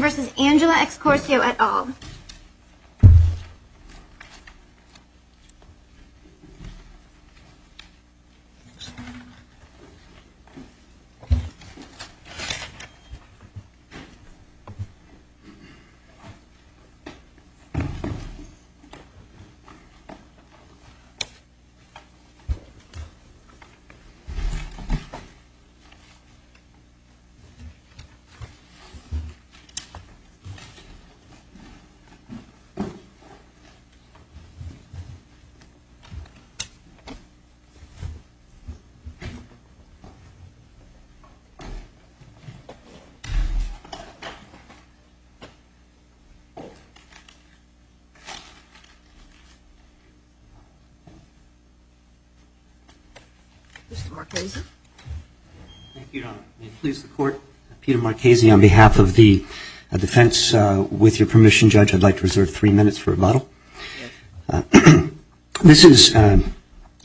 versus Angela Escorsio et al. Mr. Marchesi. May it please the Court, Peter Marchesi on behalf of the defense. With your permission, Judge, I'd like to reserve three minutes for rebuttal. This is an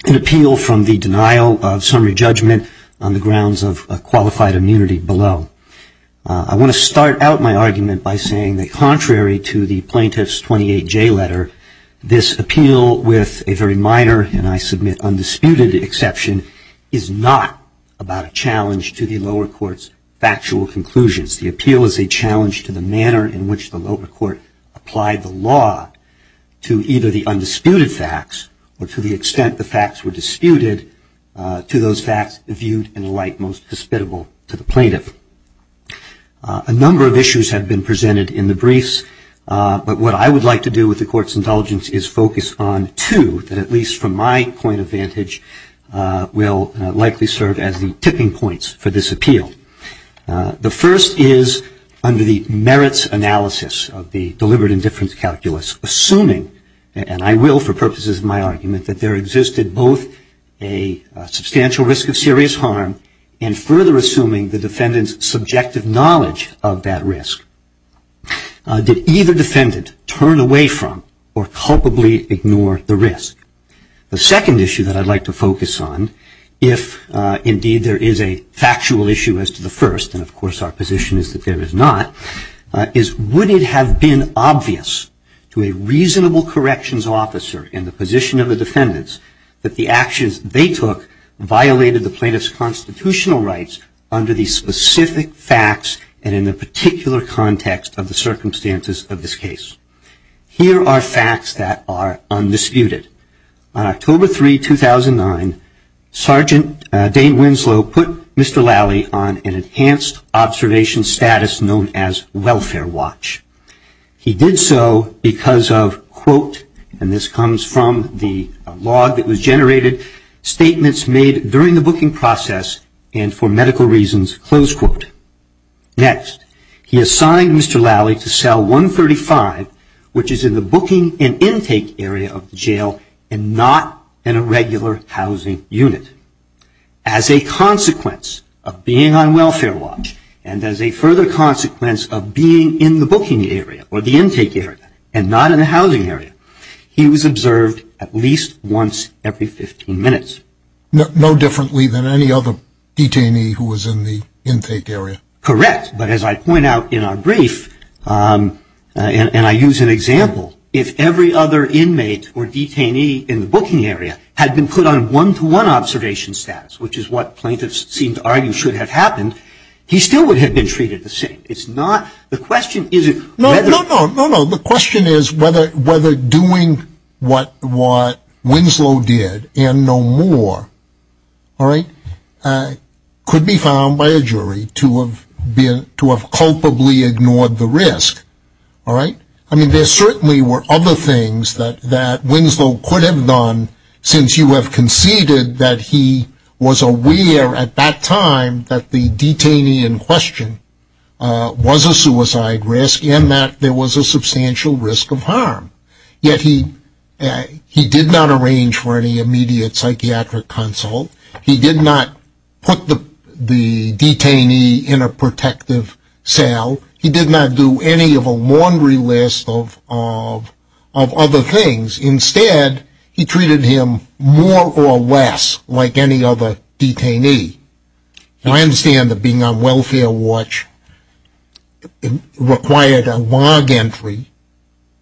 appeal from the denial of summary judgment on the grounds of qualified immunity below. I want to start out my argument by saying that contrary to the plaintiff's 28J letter, this appeal with a very minor, and I submit undisputed exception, is not about a challenge to the lower court's factual conclusions. The appeal is a challenge to the manner in which the lower court applied the law to either the undisputed facts or to the extent the facts were disputed to those facts viewed in a light most hospitable to the plaintiff. A number of issues have been presented in the briefs, but what I would like to do with the Court's indulgence is focus on two that, at least from my point of vantage, will likely serve as the tipping points for this appeal. The first is under the merits analysis of the deliberate indifference calculus, assuming, and I will for purposes of my argument, that there existed both a substantial risk of serious harm and further assuming the defendant's subjective knowledge of that risk. Did either defendant turn away from or culpably ignore the risk? The second issue that I'd like to focus on, if indeed there is a factual issue as to the first, and of course our position is that there is not, is would it have been obvious to a reasonable corrections officer in the position of the defendants that the actions they took violated the plaintiff's constitutional rights under the specific facts and in the particular context of the circumstances of this case? Here are facts that are undisputed. On October 3, 2009, Sergeant Dane Winslow put Mr. Lally on an enhanced observation status known as welfare watch. He did so because of, quote, and this comes from the log that was generated, statements made during the booking process and for medical reasons, close quote. Next, he assigned Mr. Lally to cell 135, which is in the booking and intake area of the jail and not in a regular housing unit. As a consequence of being on welfare watch and as a further consequence of being in the booking area or the intake area and not in the housing area, he was observed at least once every 15 minutes. No differently than any other detainee who was in the intake area? Correct, but as I point out in our brief and I use an example, if every other inmate or detainee in the booking area had been put on one-to-one observation status, which is what plaintiffs seem to argue should have happened, he still would have been treated the same. No, no, no. The question is whether doing what Winslow did and no more could be found by a jury to have culpably ignored the risk. I mean, there certainly were other things that Winslow could have done since you have conceded that he was aware at that time that the detainee in question was a suicide risk and that there was a substantial risk of harm. Yet he did not arrange for any immediate psychiatric consult. He did not put the detainee in a protective cell. He did not do any of a laundry list of other things. Instead, he treated him more or less like any other detainee. I understand that being on welfare watch required a log entry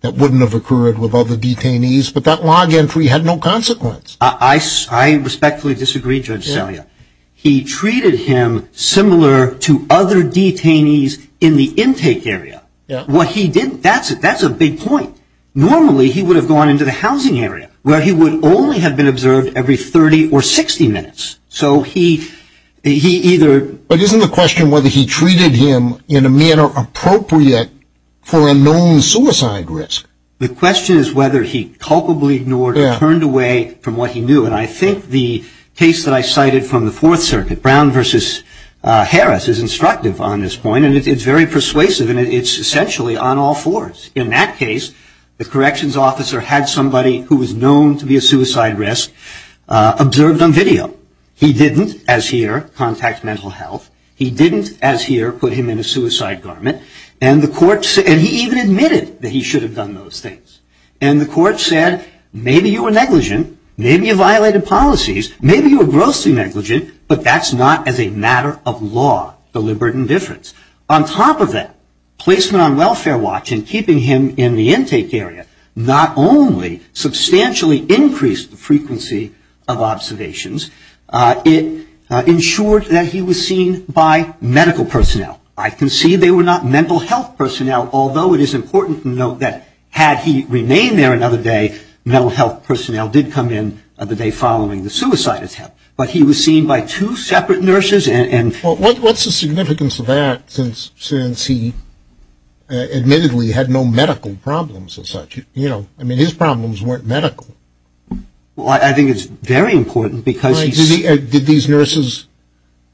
that wouldn't have occurred with other detainees, but that log entry had no consequence. I respectfully disagree, Judge Celia. He treated him similar to other detainees in the intake area. What he did, that's a big point. Normally, he would have gone into the housing area where he would only have been observed every 30 or 60 minutes. So he either – But isn't the question whether he treated him in a manner appropriate for a known suicide risk? The question is whether he culpably ignored or turned away from what he knew. And I think the case that I cited from the Fourth Circuit, Brown v. Harris, is instructive on this point, and it's very persuasive, and it's essentially on all fours. In that case, the corrections officer had somebody who was known to be a suicide risk observed on video. He didn't, as here, contact mental health. He didn't, as here, put him in a suicide garment. And he even admitted that he should have done those things. And the court said, maybe you were negligent, maybe you violated policies, maybe you were grossly negligent, but that's not as a matter of law, deliberate indifference. On top of that, placement on welfare watch and keeping him in the intake area not only substantially increased the frequency of observations, it ensured that he was seen by medical personnel. I concede they were not mental health personnel, although it is important to note that had he remained there another day, mental health personnel did come in the day following the suicide attempt. But he was seen by two separate nurses and – Well, what's the significance of that since he admittedly had no medical problems as such? You know, I mean, his problems weren't medical. Well, I think it's very important because he – Did these nurses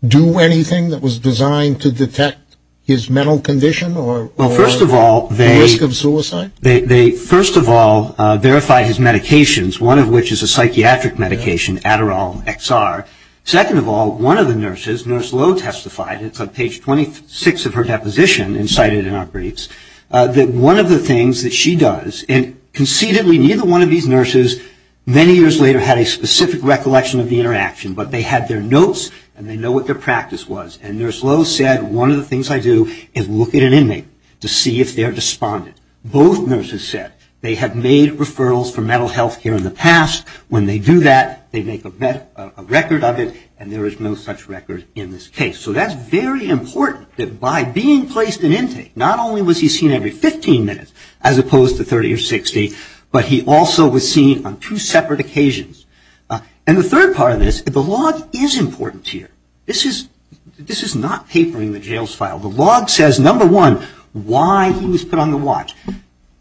do anything that was designed to detect his mental condition or – Well, first of all, they – The risk of suicide? They, first of all, verified his medications, one of which is a psychiatric medication, Adderall XR. Second of all, one of the nurses, Nurse Lowe, testified – it's on page 26 of her deposition and cited in our briefs – that one of the things that she does – and concededly, neither one of these nurses many years later had a specific recollection of the interaction, but they had their notes and they know what their practice was. And Nurse Lowe said, one of the things I do is look at an inmate to see if they're despondent. Both nurses said they had made referrals for mental health care in the past. When they do that, they make a record of it, and there is no such record in this case. So that's very important that by being placed in intake, not only was he seen every 15 minutes as opposed to 30 or 60, but he also was seen on two separate occasions. And the third part of this, the log is important here. This is not papering the jails file. The log says, number one, why he was put on the watch.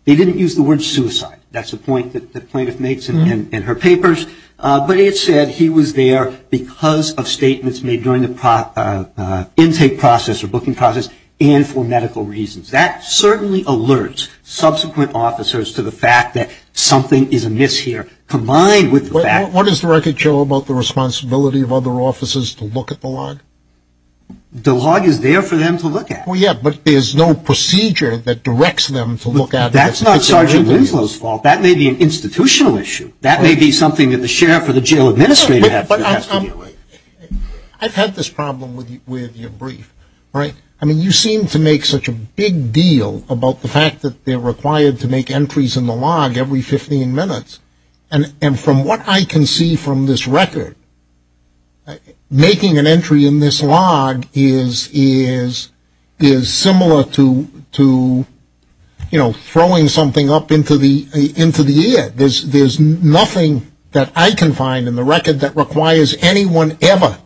They didn't use the word suicide. That's a point that the plaintiff makes in her papers. But it said he was there because of statements made during the intake process or booking process and for medical reasons. That certainly alerts subsequent officers to the fact that something is amiss here, combined with the fact that What does the record show about the responsibility of other officers to look at the log? The log is there for them to look at. Well, yeah, but there's no procedure that directs them to look at it. That's not Sergeant Winslow's fault. That may be an institutional issue. That may be something that the sheriff or the jail administrator has to deal with. I've had this problem with your brief. I mean, you seem to make such a big deal about the fact that they're required to make entries in the log every 15 minutes. And from what I can see from this record, making an entry in this log is similar to, you know, throwing something up into the air. There's nothing that I can find in the record that requires anyone ever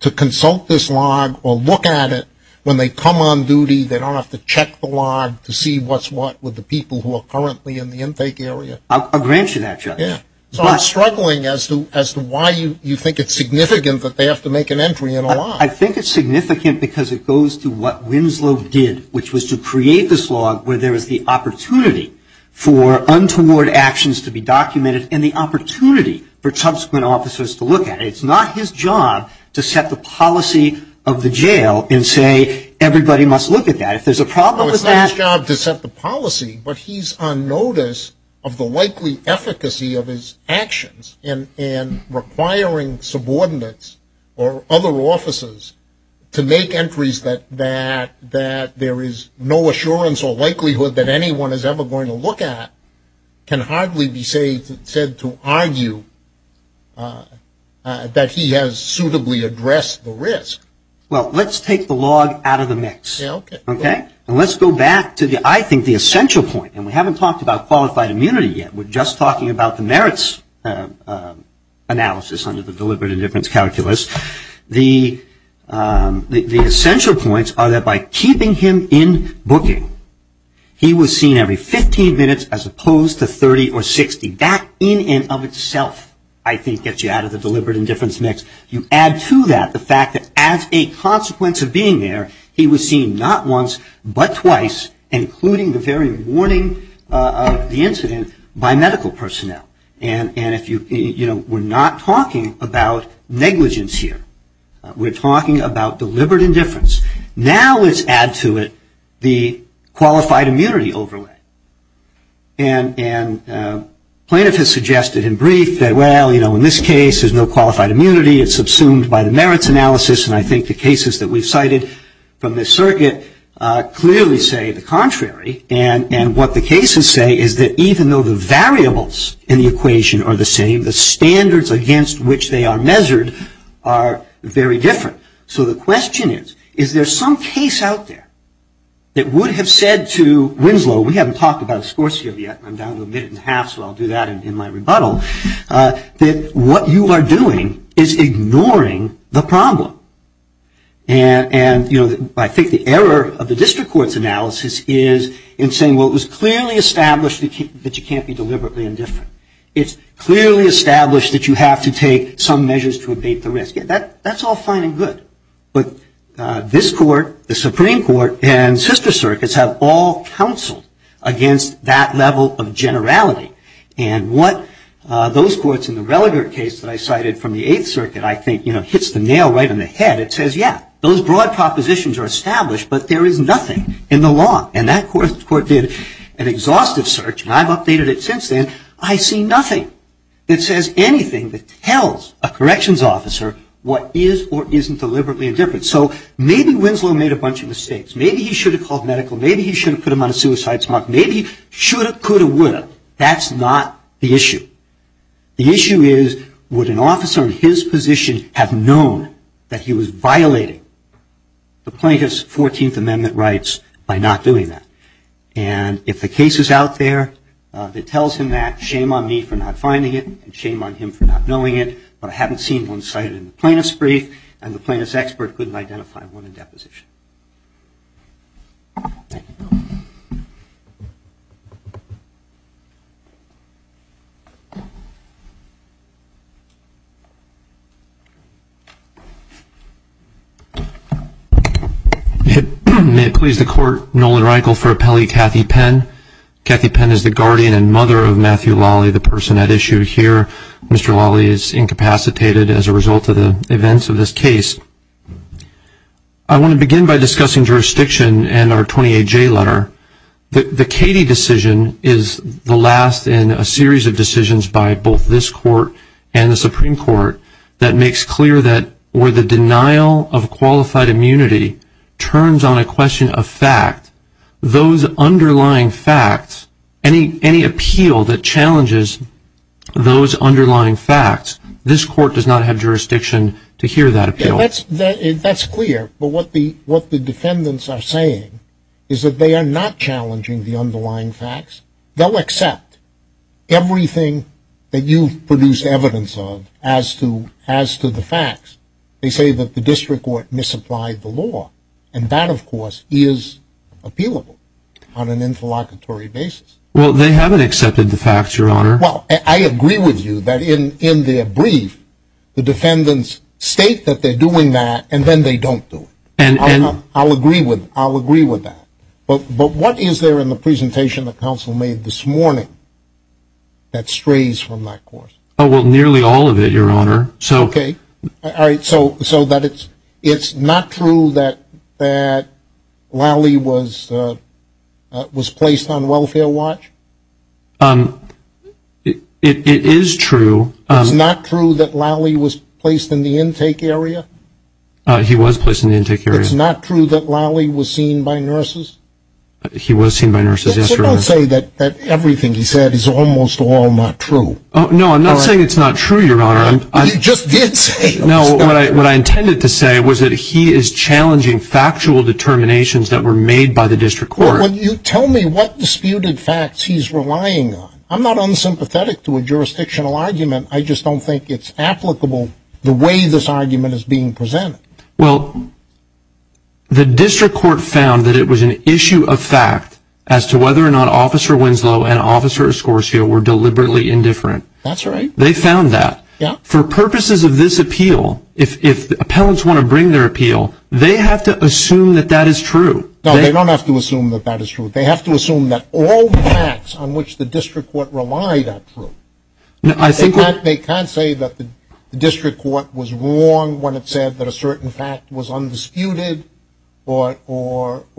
to consult this log or look at it. When they come on duty, they don't have to check the log to see what's what with the people who are currently in the intake area. I'll grant you that, Judge. So I'm struggling as to why you think it's significant that they have to make an entry in a log. I think it's significant because it goes to what Winslow did, which was to create this log where there is the opportunity for untoward actions to be documented and the opportunity for subsequent officers to look at it. It's not his job to set the policy of the jail and say everybody must look at that. It's not his job to set the policy, but he's on notice of the likely efficacy of his actions in requiring subordinates or other officers to make entries that there is no assurance or likelihood that anyone is ever going to look at can hardly be said to argue that he has suitably addressed the risk. Well, let's take the log out of the mix. Let's go back to, I think, the essential point. We haven't talked about qualified immunity yet. We're just talking about the merits analysis under the deliberate indifference calculus. The essential points are that by keeping him in booking, he was seen every 15 minutes as opposed to 30 or 60. That in and of itself, I think, gets you out of the deliberate indifference mix. You add to that the fact that as a consequence of being there, he was seen not once but twice, including the very warning of the incident, by medical personnel. And we're not talking about negligence here. We're talking about deliberate indifference. Now let's add to it the qualified immunity overlay. And plaintiff has suggested in brief that, well, you know, in this case there's no qualified immunity. It's subsumed by the merits analysis. And I think the cases that we've cited from this circuit clearly say the contrary. And what the cases say is that even though the variables in the equation are the same, the standards against which they are measured are very different. So the question is, is there some case out there that would have said to Winslow, we haven't talked about Scorsio yet, I'm down to a minute and a half, so I'll do that in my rebuttal, that what you are doing is ignoring the problem. And, you know, I think the error of the district court's analysis is in saying, well, it was clearly established that you can't be deliberately indifferent. It's clearly established that you have to take some measures to abate the risk. That's all fine and good. But this court, the Supreme Court, and sister circuits have all counseled against that level of generality. And what those courts in the Relegate case that I cited from the Eighth Circuit, I think, you know, hits the nail right on the head. It says, yeah, those broad propositions are established, but there is nothing in the law. And that court did an exhaustive search, and I've updated it since then. I see nothing that says anything that tells a corrections officer what is or isn't deliberately indifferent. So maybe Winslow made a bunch of mistakes. Maybe he should have called medical. Maybe he should have put him on a suicide smoke. Maybe he should have, could have, would have. That's not the issue. The issue is, would an officer in his position have known that he was violating the Plaintiff's 14th Amendment rights by not doing that? And if the case is out there that tells him that, shame on me for not finding it, and shame on him for not knowing it. But I haven't seen one cited in the Plaintiff's brief, and the Plaintiff's expert couldn't identify one in deposition. Thank you. May it please the Court, Nolan Reinkel for appellee Kathy Penn. Kathy Penn is the guardian and mother of Matthew Lally, the person at issue here. Mr. Lally is incapacitated as a result of the events of this case. I want to begin by discussing jurisdiction and our 28J letter. The Cady decision is the last in a series of decisions by both this Court and the Supreme Court that makes clear that where the denial of qualified immunity turns on a question of fact, those underlying facts, any appeal that challenges those underlying facts, this Court does not have jurisdiction to hear that appeal. That's clear, but what the defendants are saying is that they are not challenging the underlying facts. They'll accept everything that you've produced evidence of as to the facts. They say that the district court misapplied the law, and that, of course, is appealable on an interlocutory basis. Well, they haven't accepted the facts, Your Honor. Well, I agree with you that in their brief, the defendants state that they're doing that, and then they don't do it. I'll agree with that. But what is there in the presentation that counsel made this morning that strays from that course? Oh, well, nearly all of it, Your Honor. Okay. All right, so it's not true that Lally was placed on welfare watch? It is true. It's not true that Lally was placed in the intake area? He was placed in the intake area. It's not true that Lally was seen by nurses? He was seen by nurses, yes, Your Honor. So don't say that everything he said is almost all not true. No, I'm not saying it's not true, Your Honor. You just did say it was not true. No, what I intended to say was that he is challenging factual determinations that were made by the district court. Well, you tell me what disputed facts he's relying on. I'm not unsympathetic to a jurisdictional argument. I just don't think it's applicable the way this argument is being presented. Well, the district court found that it was an issue of fact as to whether or not Officer Winslow and Officer Escortia were deliberately indifferent. That's right. They found that. For purposes of this appeal, if appellants want to bring their appeal, they have to assume that that is true. No, they don't have to assume that that is true. They have to assume that all the facts on which the district court relied are true. They can't say that the district court was wrong when it said that a certain fact was undisputed or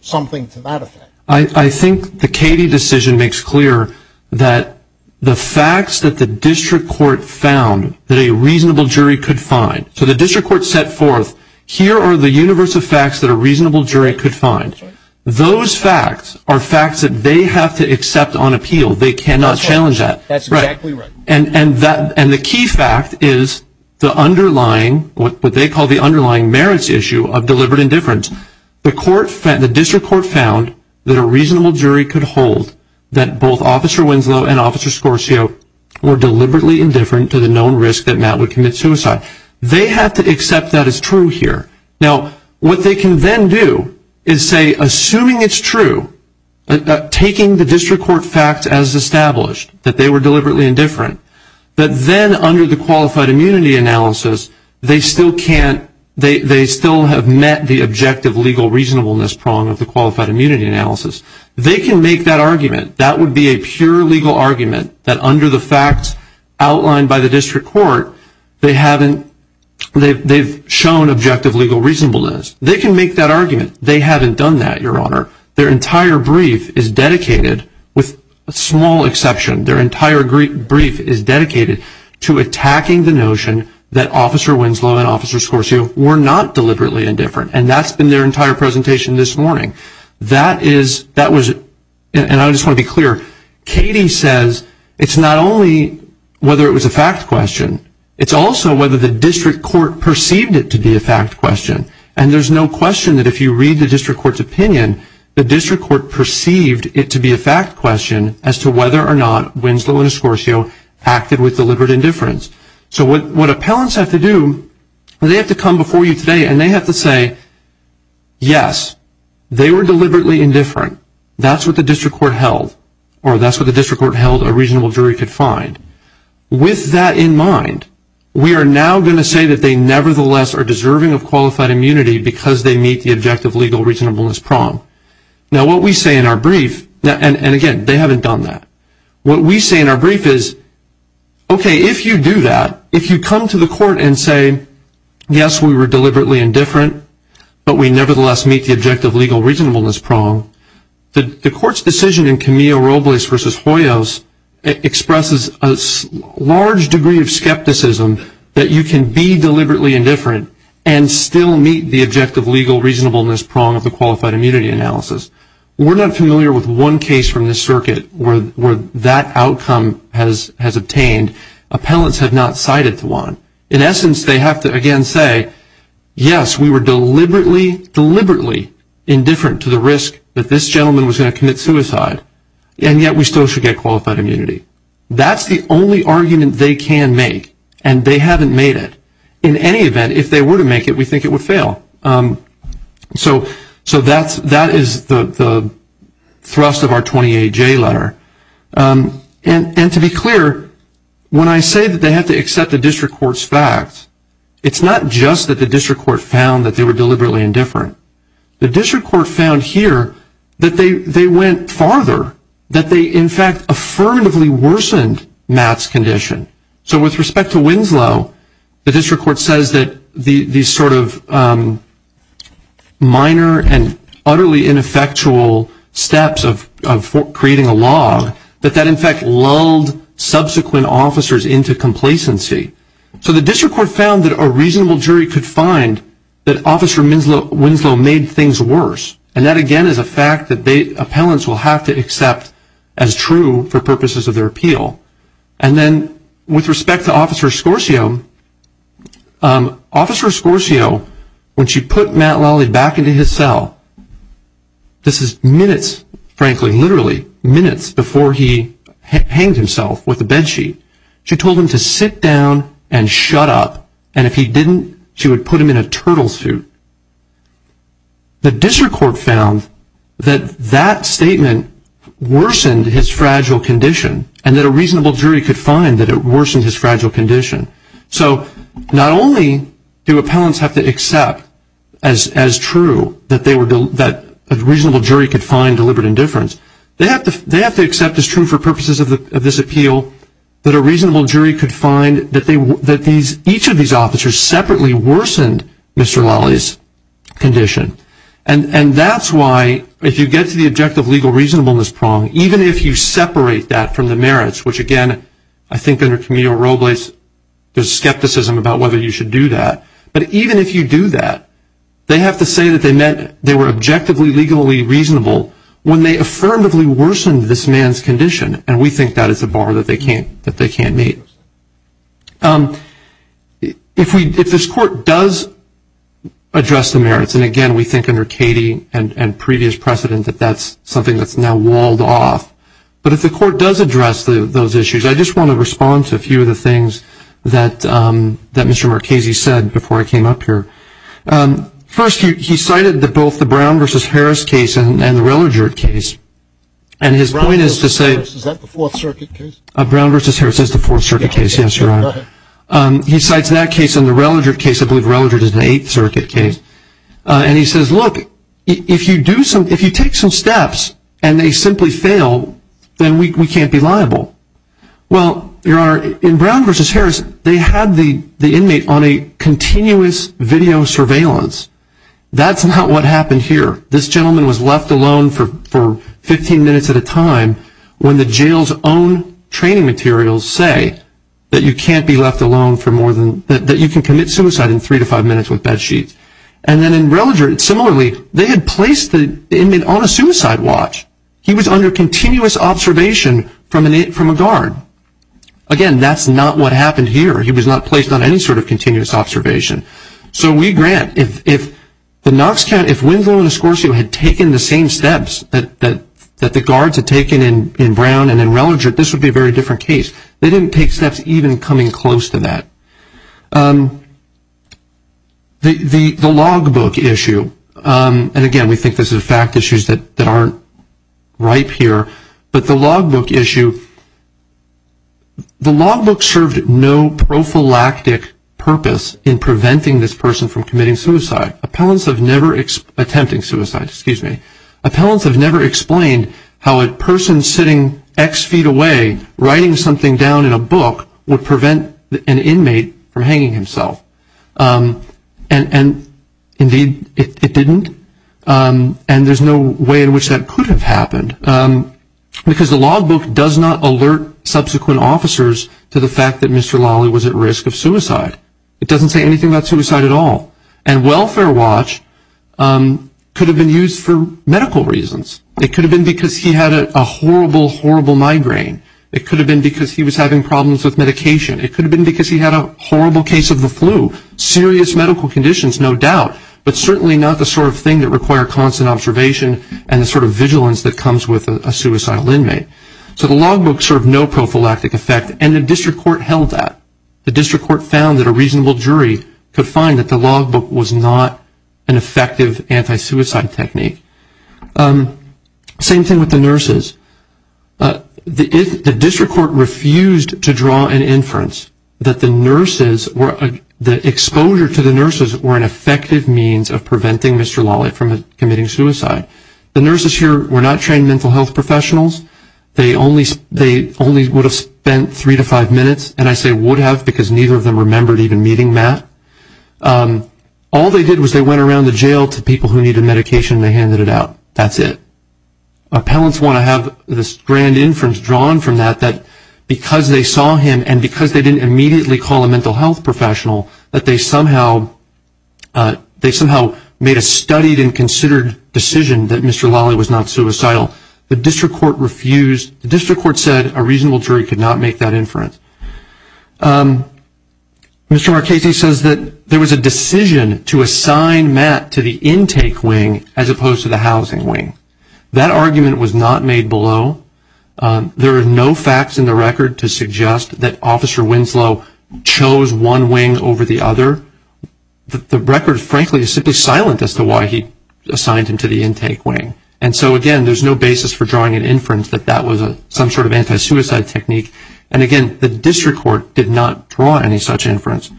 something to that effect. I think the Cady decision makes clear that the facts that the district court found that a reasonable jury could find. So the district court set forth, here are the universe of facts that a reasonable jury could find. Those facts are facts that they have to accept on appeal. They cannot challenge that. That's exactly right. And the key fact is the underlying, what they call the underlying merits issue of deliberate indifference. The district court found that a reasonable jury could hold that both Officer Winslow and Officer Escortia were deliberately indifferent to the known risk that Matt would commit suicide. They have to accept that as true here. Now, what they can then do is say, assuming it's true, taking the district court facts as established, that they were deliberately indifferent, that then under the qualified immunity analysis, they still have met the objective legal reasonableness prong of the qualified immunity analysis. They can make that argument. That would be a pure legal argument that under the facts outlined by the district court, they haven't, they've shown objective legal reasonableness. They can make that argument. They haven't done that, Your Honor. Their entire brief is dedicated, with a small exception, their entire brief is dedicated to attacking the notion that Officer Winslow and Officer Escortia were not deliberately indifferent. And that's been their entire presentation this morning. That is, that was, and I just want to be clear, Katie says it's not only whether it was a fact question, it's also whether the district court perceived it to be a fact question. And there's no question that if you read the district court's opinion, the district court perceived it to be a fact question as to whether or not Winslow and Escortia acted with deliberate indifference. So what appellants have to do, they have to come before you today and they have to say, yes, they were deliberately indifferent. That's what the district court held, or that's what the district court held a reasonable jury could find. With that in mind, we are now going to say that they nevertheless are deserving of qualified immunity because they meet the objective legal reasonableness prong. Now what we say in our brief, and again, they haven't done that. What we say in our brief is, okay, if you do that, if you come to the court and say, yes, we were deliberately indifferent, but we nevertheless meet the objective legal reasonableness prong, the court's decision in Camillo-Robles v. Hoyos expresses a large degree of skepticism that you can be deliberately indifferent and still meet the objective legal reasonableness prong of the qualified immunity analysis. We're not familiar with one case from this circuit where that outcome has obtained. Appellants have not cited the one. In essence, they have to, again, say, yes, we were deliberately, deliberately indifferent to the risk that this gentleman was going to commit suicide, and yet we still should get qualified immunity. That's the only argument they can make, and they haven't made it. In any event, if they were to make it, we think it would fail. So that is the thrust of our 20-A-J letter. And to be clear, when I say that they have to accept the district court's facts, it's not just that the district court found that they were deliberately indifferent. The district court found here that they went farther, that they, in fact, affirmatively worsened Matt's condition. So with respect to Winslow, the district court says that these sort of minor and utterly ineffectual steps of creating a log, that that, in fact, lulled subsequent officers into complacency. So the district court found that a reasonable jury could find that Officer Winslow made things worse, and that, again, is a fact that appellants will have to accept as true for purposes of their appeal. And then with respect to Officer Scorsio, Officer Scorsio, when she put Matt Lally back into his cell, this is minutes, frankly, literally minutes before he hanged himself with a bed sheet, she told him to sit down and shut up, and if he didn't, she would put him in a turtle suit. The district court found that that statement worsened his fragile condition, and that a reasonable jury could find that it worsened his fragile condition. So not only do appellants have to accept as true that a reasonable jury could find deliberate indifference, they have to accept as true for purposes of this appeal that a reasonable jury could find that each of these officers separately worsened Mr. Lally's condition. And that's why, if you get to the objective legal reasonableness prong, even if you separate that from the merits, which, again, I think under Camillo-Robles, there's skepticism about whether you should do that, but even if you do that, they have to say that they meant they were objectively legally reasonable when they affirmatively worsened this man's condition, and we think that is a bar that they can't meet. If this court does address the merits, and again, we think under Cady and previous precedent that that's something that's now walled off, but if the court does address those issues, I just want to respond to a few of the things that Mr. Marchese said before I came up here. First, he cited both the Brown v. Harris case and the Rillager case, and his point is to say — Brown v. Harris, is that the Fourth Circuit case? Brown v. Harris is the Fourth Circuit case, yes, Your Honor. He cites that case and the Rillager case. I believe Rillager is the Eighth Circuit case. And he says, look, if you take some steps and they simply fail, then we can't be liable. Well, Your Honor, in Brown v. Harris, they had the inmate on a continuous video surveillance. That's not what happened here. This gentleman was left alone for 15 minutes at a time when the jail's own training materials say that you can't be left alone for more than — that you can commit suicide in three to five minutes with bed sheets. And then in Rillager, similarly, they had placed the inmate on a suicide watch. He was under continuous observation from a guard. Again, that's not what happened here. He was not placed on any sort of continuous observation. So we grant, if the Knox County — if Winslow and Escorcio had taken the same steps that the guards had taken in Brown and in Rillager, this would be a very different case. They didn't take steps even coming close to that. The logbook issue, and again, we think this is a fact issue that aren't ripe here, but the logbook issue — the logbook served no prophylactic purpose in preventing this person from committing suicide. Appellants have never — attempting suicide, excuse me. Appellants have never explained how a person sitting X feet away writing something down in a book would prevent an inmate from hanging himself. And indeed, it didn't. And there's no way in which that could have happened. Because the logbook does not alert subsequent officers to the fact that Mr. Lawley was at risk of suicide. It doesn't say anything about suicide at all. And welfare watch could have been used for medical reasons. It could have been because he had a horrible, horrible migraine. It could have been because he was having problems with medication. It could have been because he had a horrible case of the flu. Serious medical conditions, no doubt, but certainly not the sort of thing that require constant observation and the sort of vigilance that comes with a suicidal inmate. So the logbook served no prophylactic effect, and the district court held that. The district court found that a reasonable jury could find that the logbook was not an effective anti-suicide technique. Same thing with the nurses. The district court refused to draw an inference that the exposure to the nurses were an effective means of preventing Mr. Lawley from committing suicide. The nurses here were not trained mental health professionals. They only would have spent three to five minutes, and I say would have because neither of them remembered even meeting Matt. All they did was they went around the jail to people who needed medication, and they handed it out. That's it. Appellants want to have this grand inference drawn from that, that because they saw him and because they didn't immediately call a mental health professional, that they somehow made a studied and considered decision that Mr. Lawley was not suicidal. The district court refused. The district court said a reasonable jury could not make that inference. Mr. Marchese says that there was a decision to assign Matt to the intake wing as opposed to the housing wing. That argument was not made below. There are no facts in the record to suggest that Officer Winslow chose one wing over the other. The record, frankly, is simply silent as to why he assigned him to the intake wing. And so, again, there's no basis for drawing an inference that that was some sort of anti-suicide technique. And, again, the district court did not draw any such inference.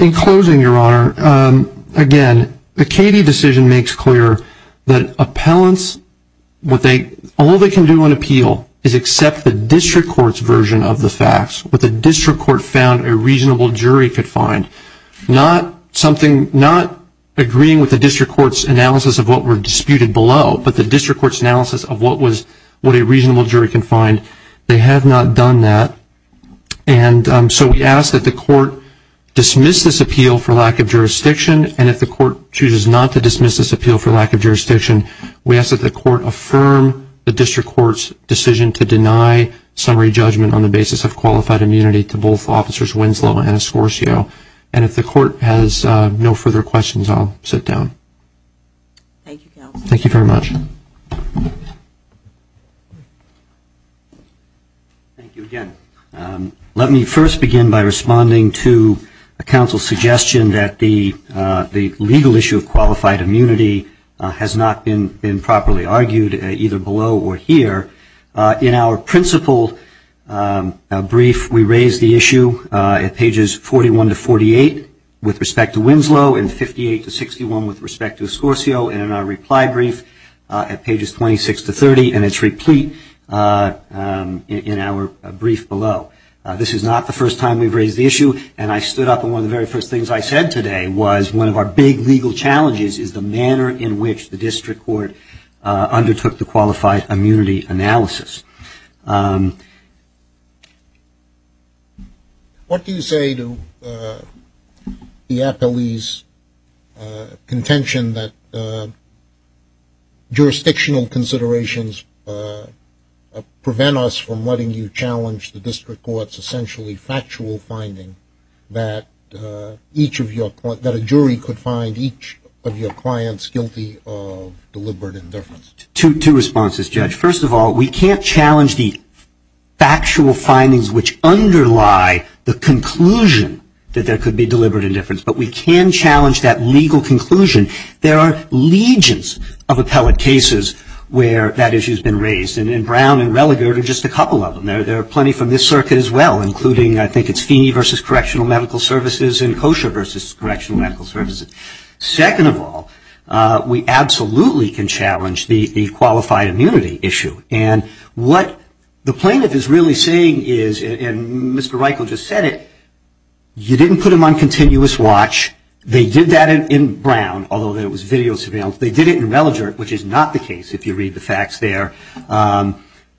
In closing, Your Honor, again, the Cady decision makes clear that appellants, all they can do on appeal is accept the district court's version of the facts, what the district court found a reasonable jury could find. Not agreeing with the district court's analysis of what were disputed below, but the district court's analysis of what a reasonable jury can find. They have not done that. And so we ask that the court dismiss this appeal for lack of jurisdiction. And if the court chooses not to dismiss this appeal for lack of jurisdiction, we ask that the court affirm the district court's decision to deny summary appeals. And if the court has no further questions, I'll sit down. Thank you, counsel. Thank you very much. Thank you again. Let me first begin by responding to a counsel's suggestion that the legal issue of qualified immunity has not been properly argued, either below or here. In our principal brief, we raise the issue at pages 41 to 48 with respect to Winslow and 58 to 61 with respect to Escorcio. And in our reply brief at pages 26 to 30, and it's replete in our brief below. This is not the first time we've raised the issue. And I stood up and one of the very first things I said today was one of our big legal challenges is the manner in which the district court undertook the qualified immunity analysis. What do you say to the appellee's contention that jurisdictional considerations prevent us from letting you challenge the district court's essentially factual finding that each of your, that a jury could find each of your clients guilty of deliberate indifference? Two responses, Judge. First of all, we can't challenge the factual findings which underlie the conclusion that there could be deliberate indifference. But we can challenge that legal conclusion. There are legions of appellate cases where that issue has been raised. And Brown and Religert are just a couple of them. There are plenty from this circuit as well, including I think it's Feeney versus Correctional Medical Services and Kosher versus Correctional Medical Services. Second of all, we absolutely can challenge the qualified immunity issue. And what the plaintiff is really saying is, and Mr. Reichel just said it, you didn't put them on continuous watch. They did that in Brown, although there was video surveillance. They did it in Religert, which is not the case if you read the facts there.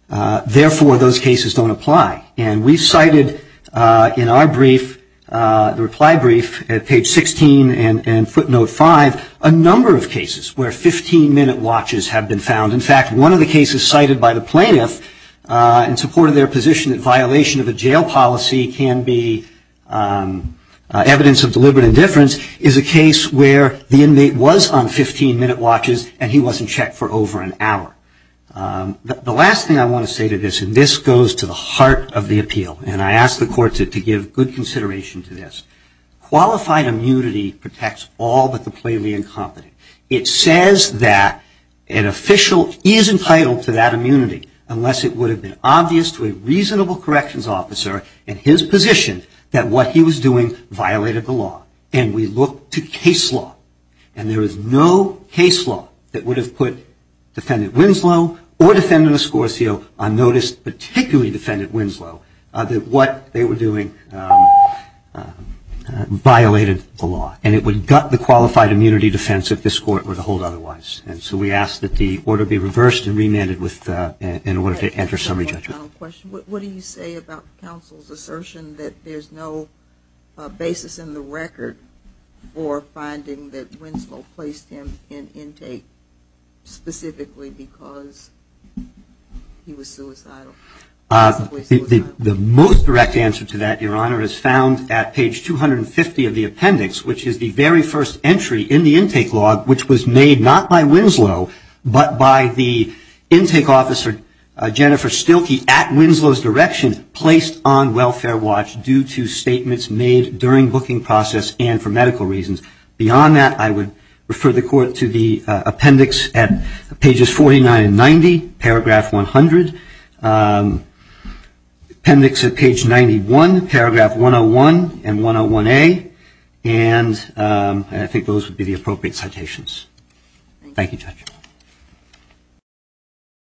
Therefore, those cases don't apply. And we've cited in our brief, the reply brief at page 16 and footnote 5, a number of cases where 15-minute watches have been found. In fact, one of the cases cited by the plaintiff in support of their position that violation of a jail policy can be evidence of deliberate indifference is a case where the inmate was on 15-minute watches, and he wasn't checked for over an hour. The last thing I want to say to this, and this goes to the heart of the appeal, and I ask the court to give good consideration to this. Qualified immunity protects all but the plainly incompetent. It says that an official is entitled to that immunity, unless it would have been obvious to a reasonable corrections officer in his position that what he was doing violated the law. And we look to case law. And there is no case law that would have put Defendant Winslow or Defendant Escorcio on notice, particularly Defendant Winslow, that what they were doing violated the law. And it would gut the qualified immunity defense if this court were to hold otherwise. And so we ask that the order be reversed and remanded in order to enter summary judgment. What do you say about counsel's assertion that there's no basis in the record for finding that Winslow placed him in intake specifically because he was suicidal? The most direct answer to that, Your Honor, is found at page 250 of the appendix, which is the very first entry in the intake law, which was made not by Winslow, but by the intake officer, Jennifer Stilke, at Winslow's direction, and placed on welfare watch due to statements made during booking process and for medical reasons. Beyond that, I would refer the court to the appendix at pages 49 and 90, paragraph 100, appendix at page 91, paragraph 101 and 101A, and I think those would be the appropriate citations. Thank you, Judge.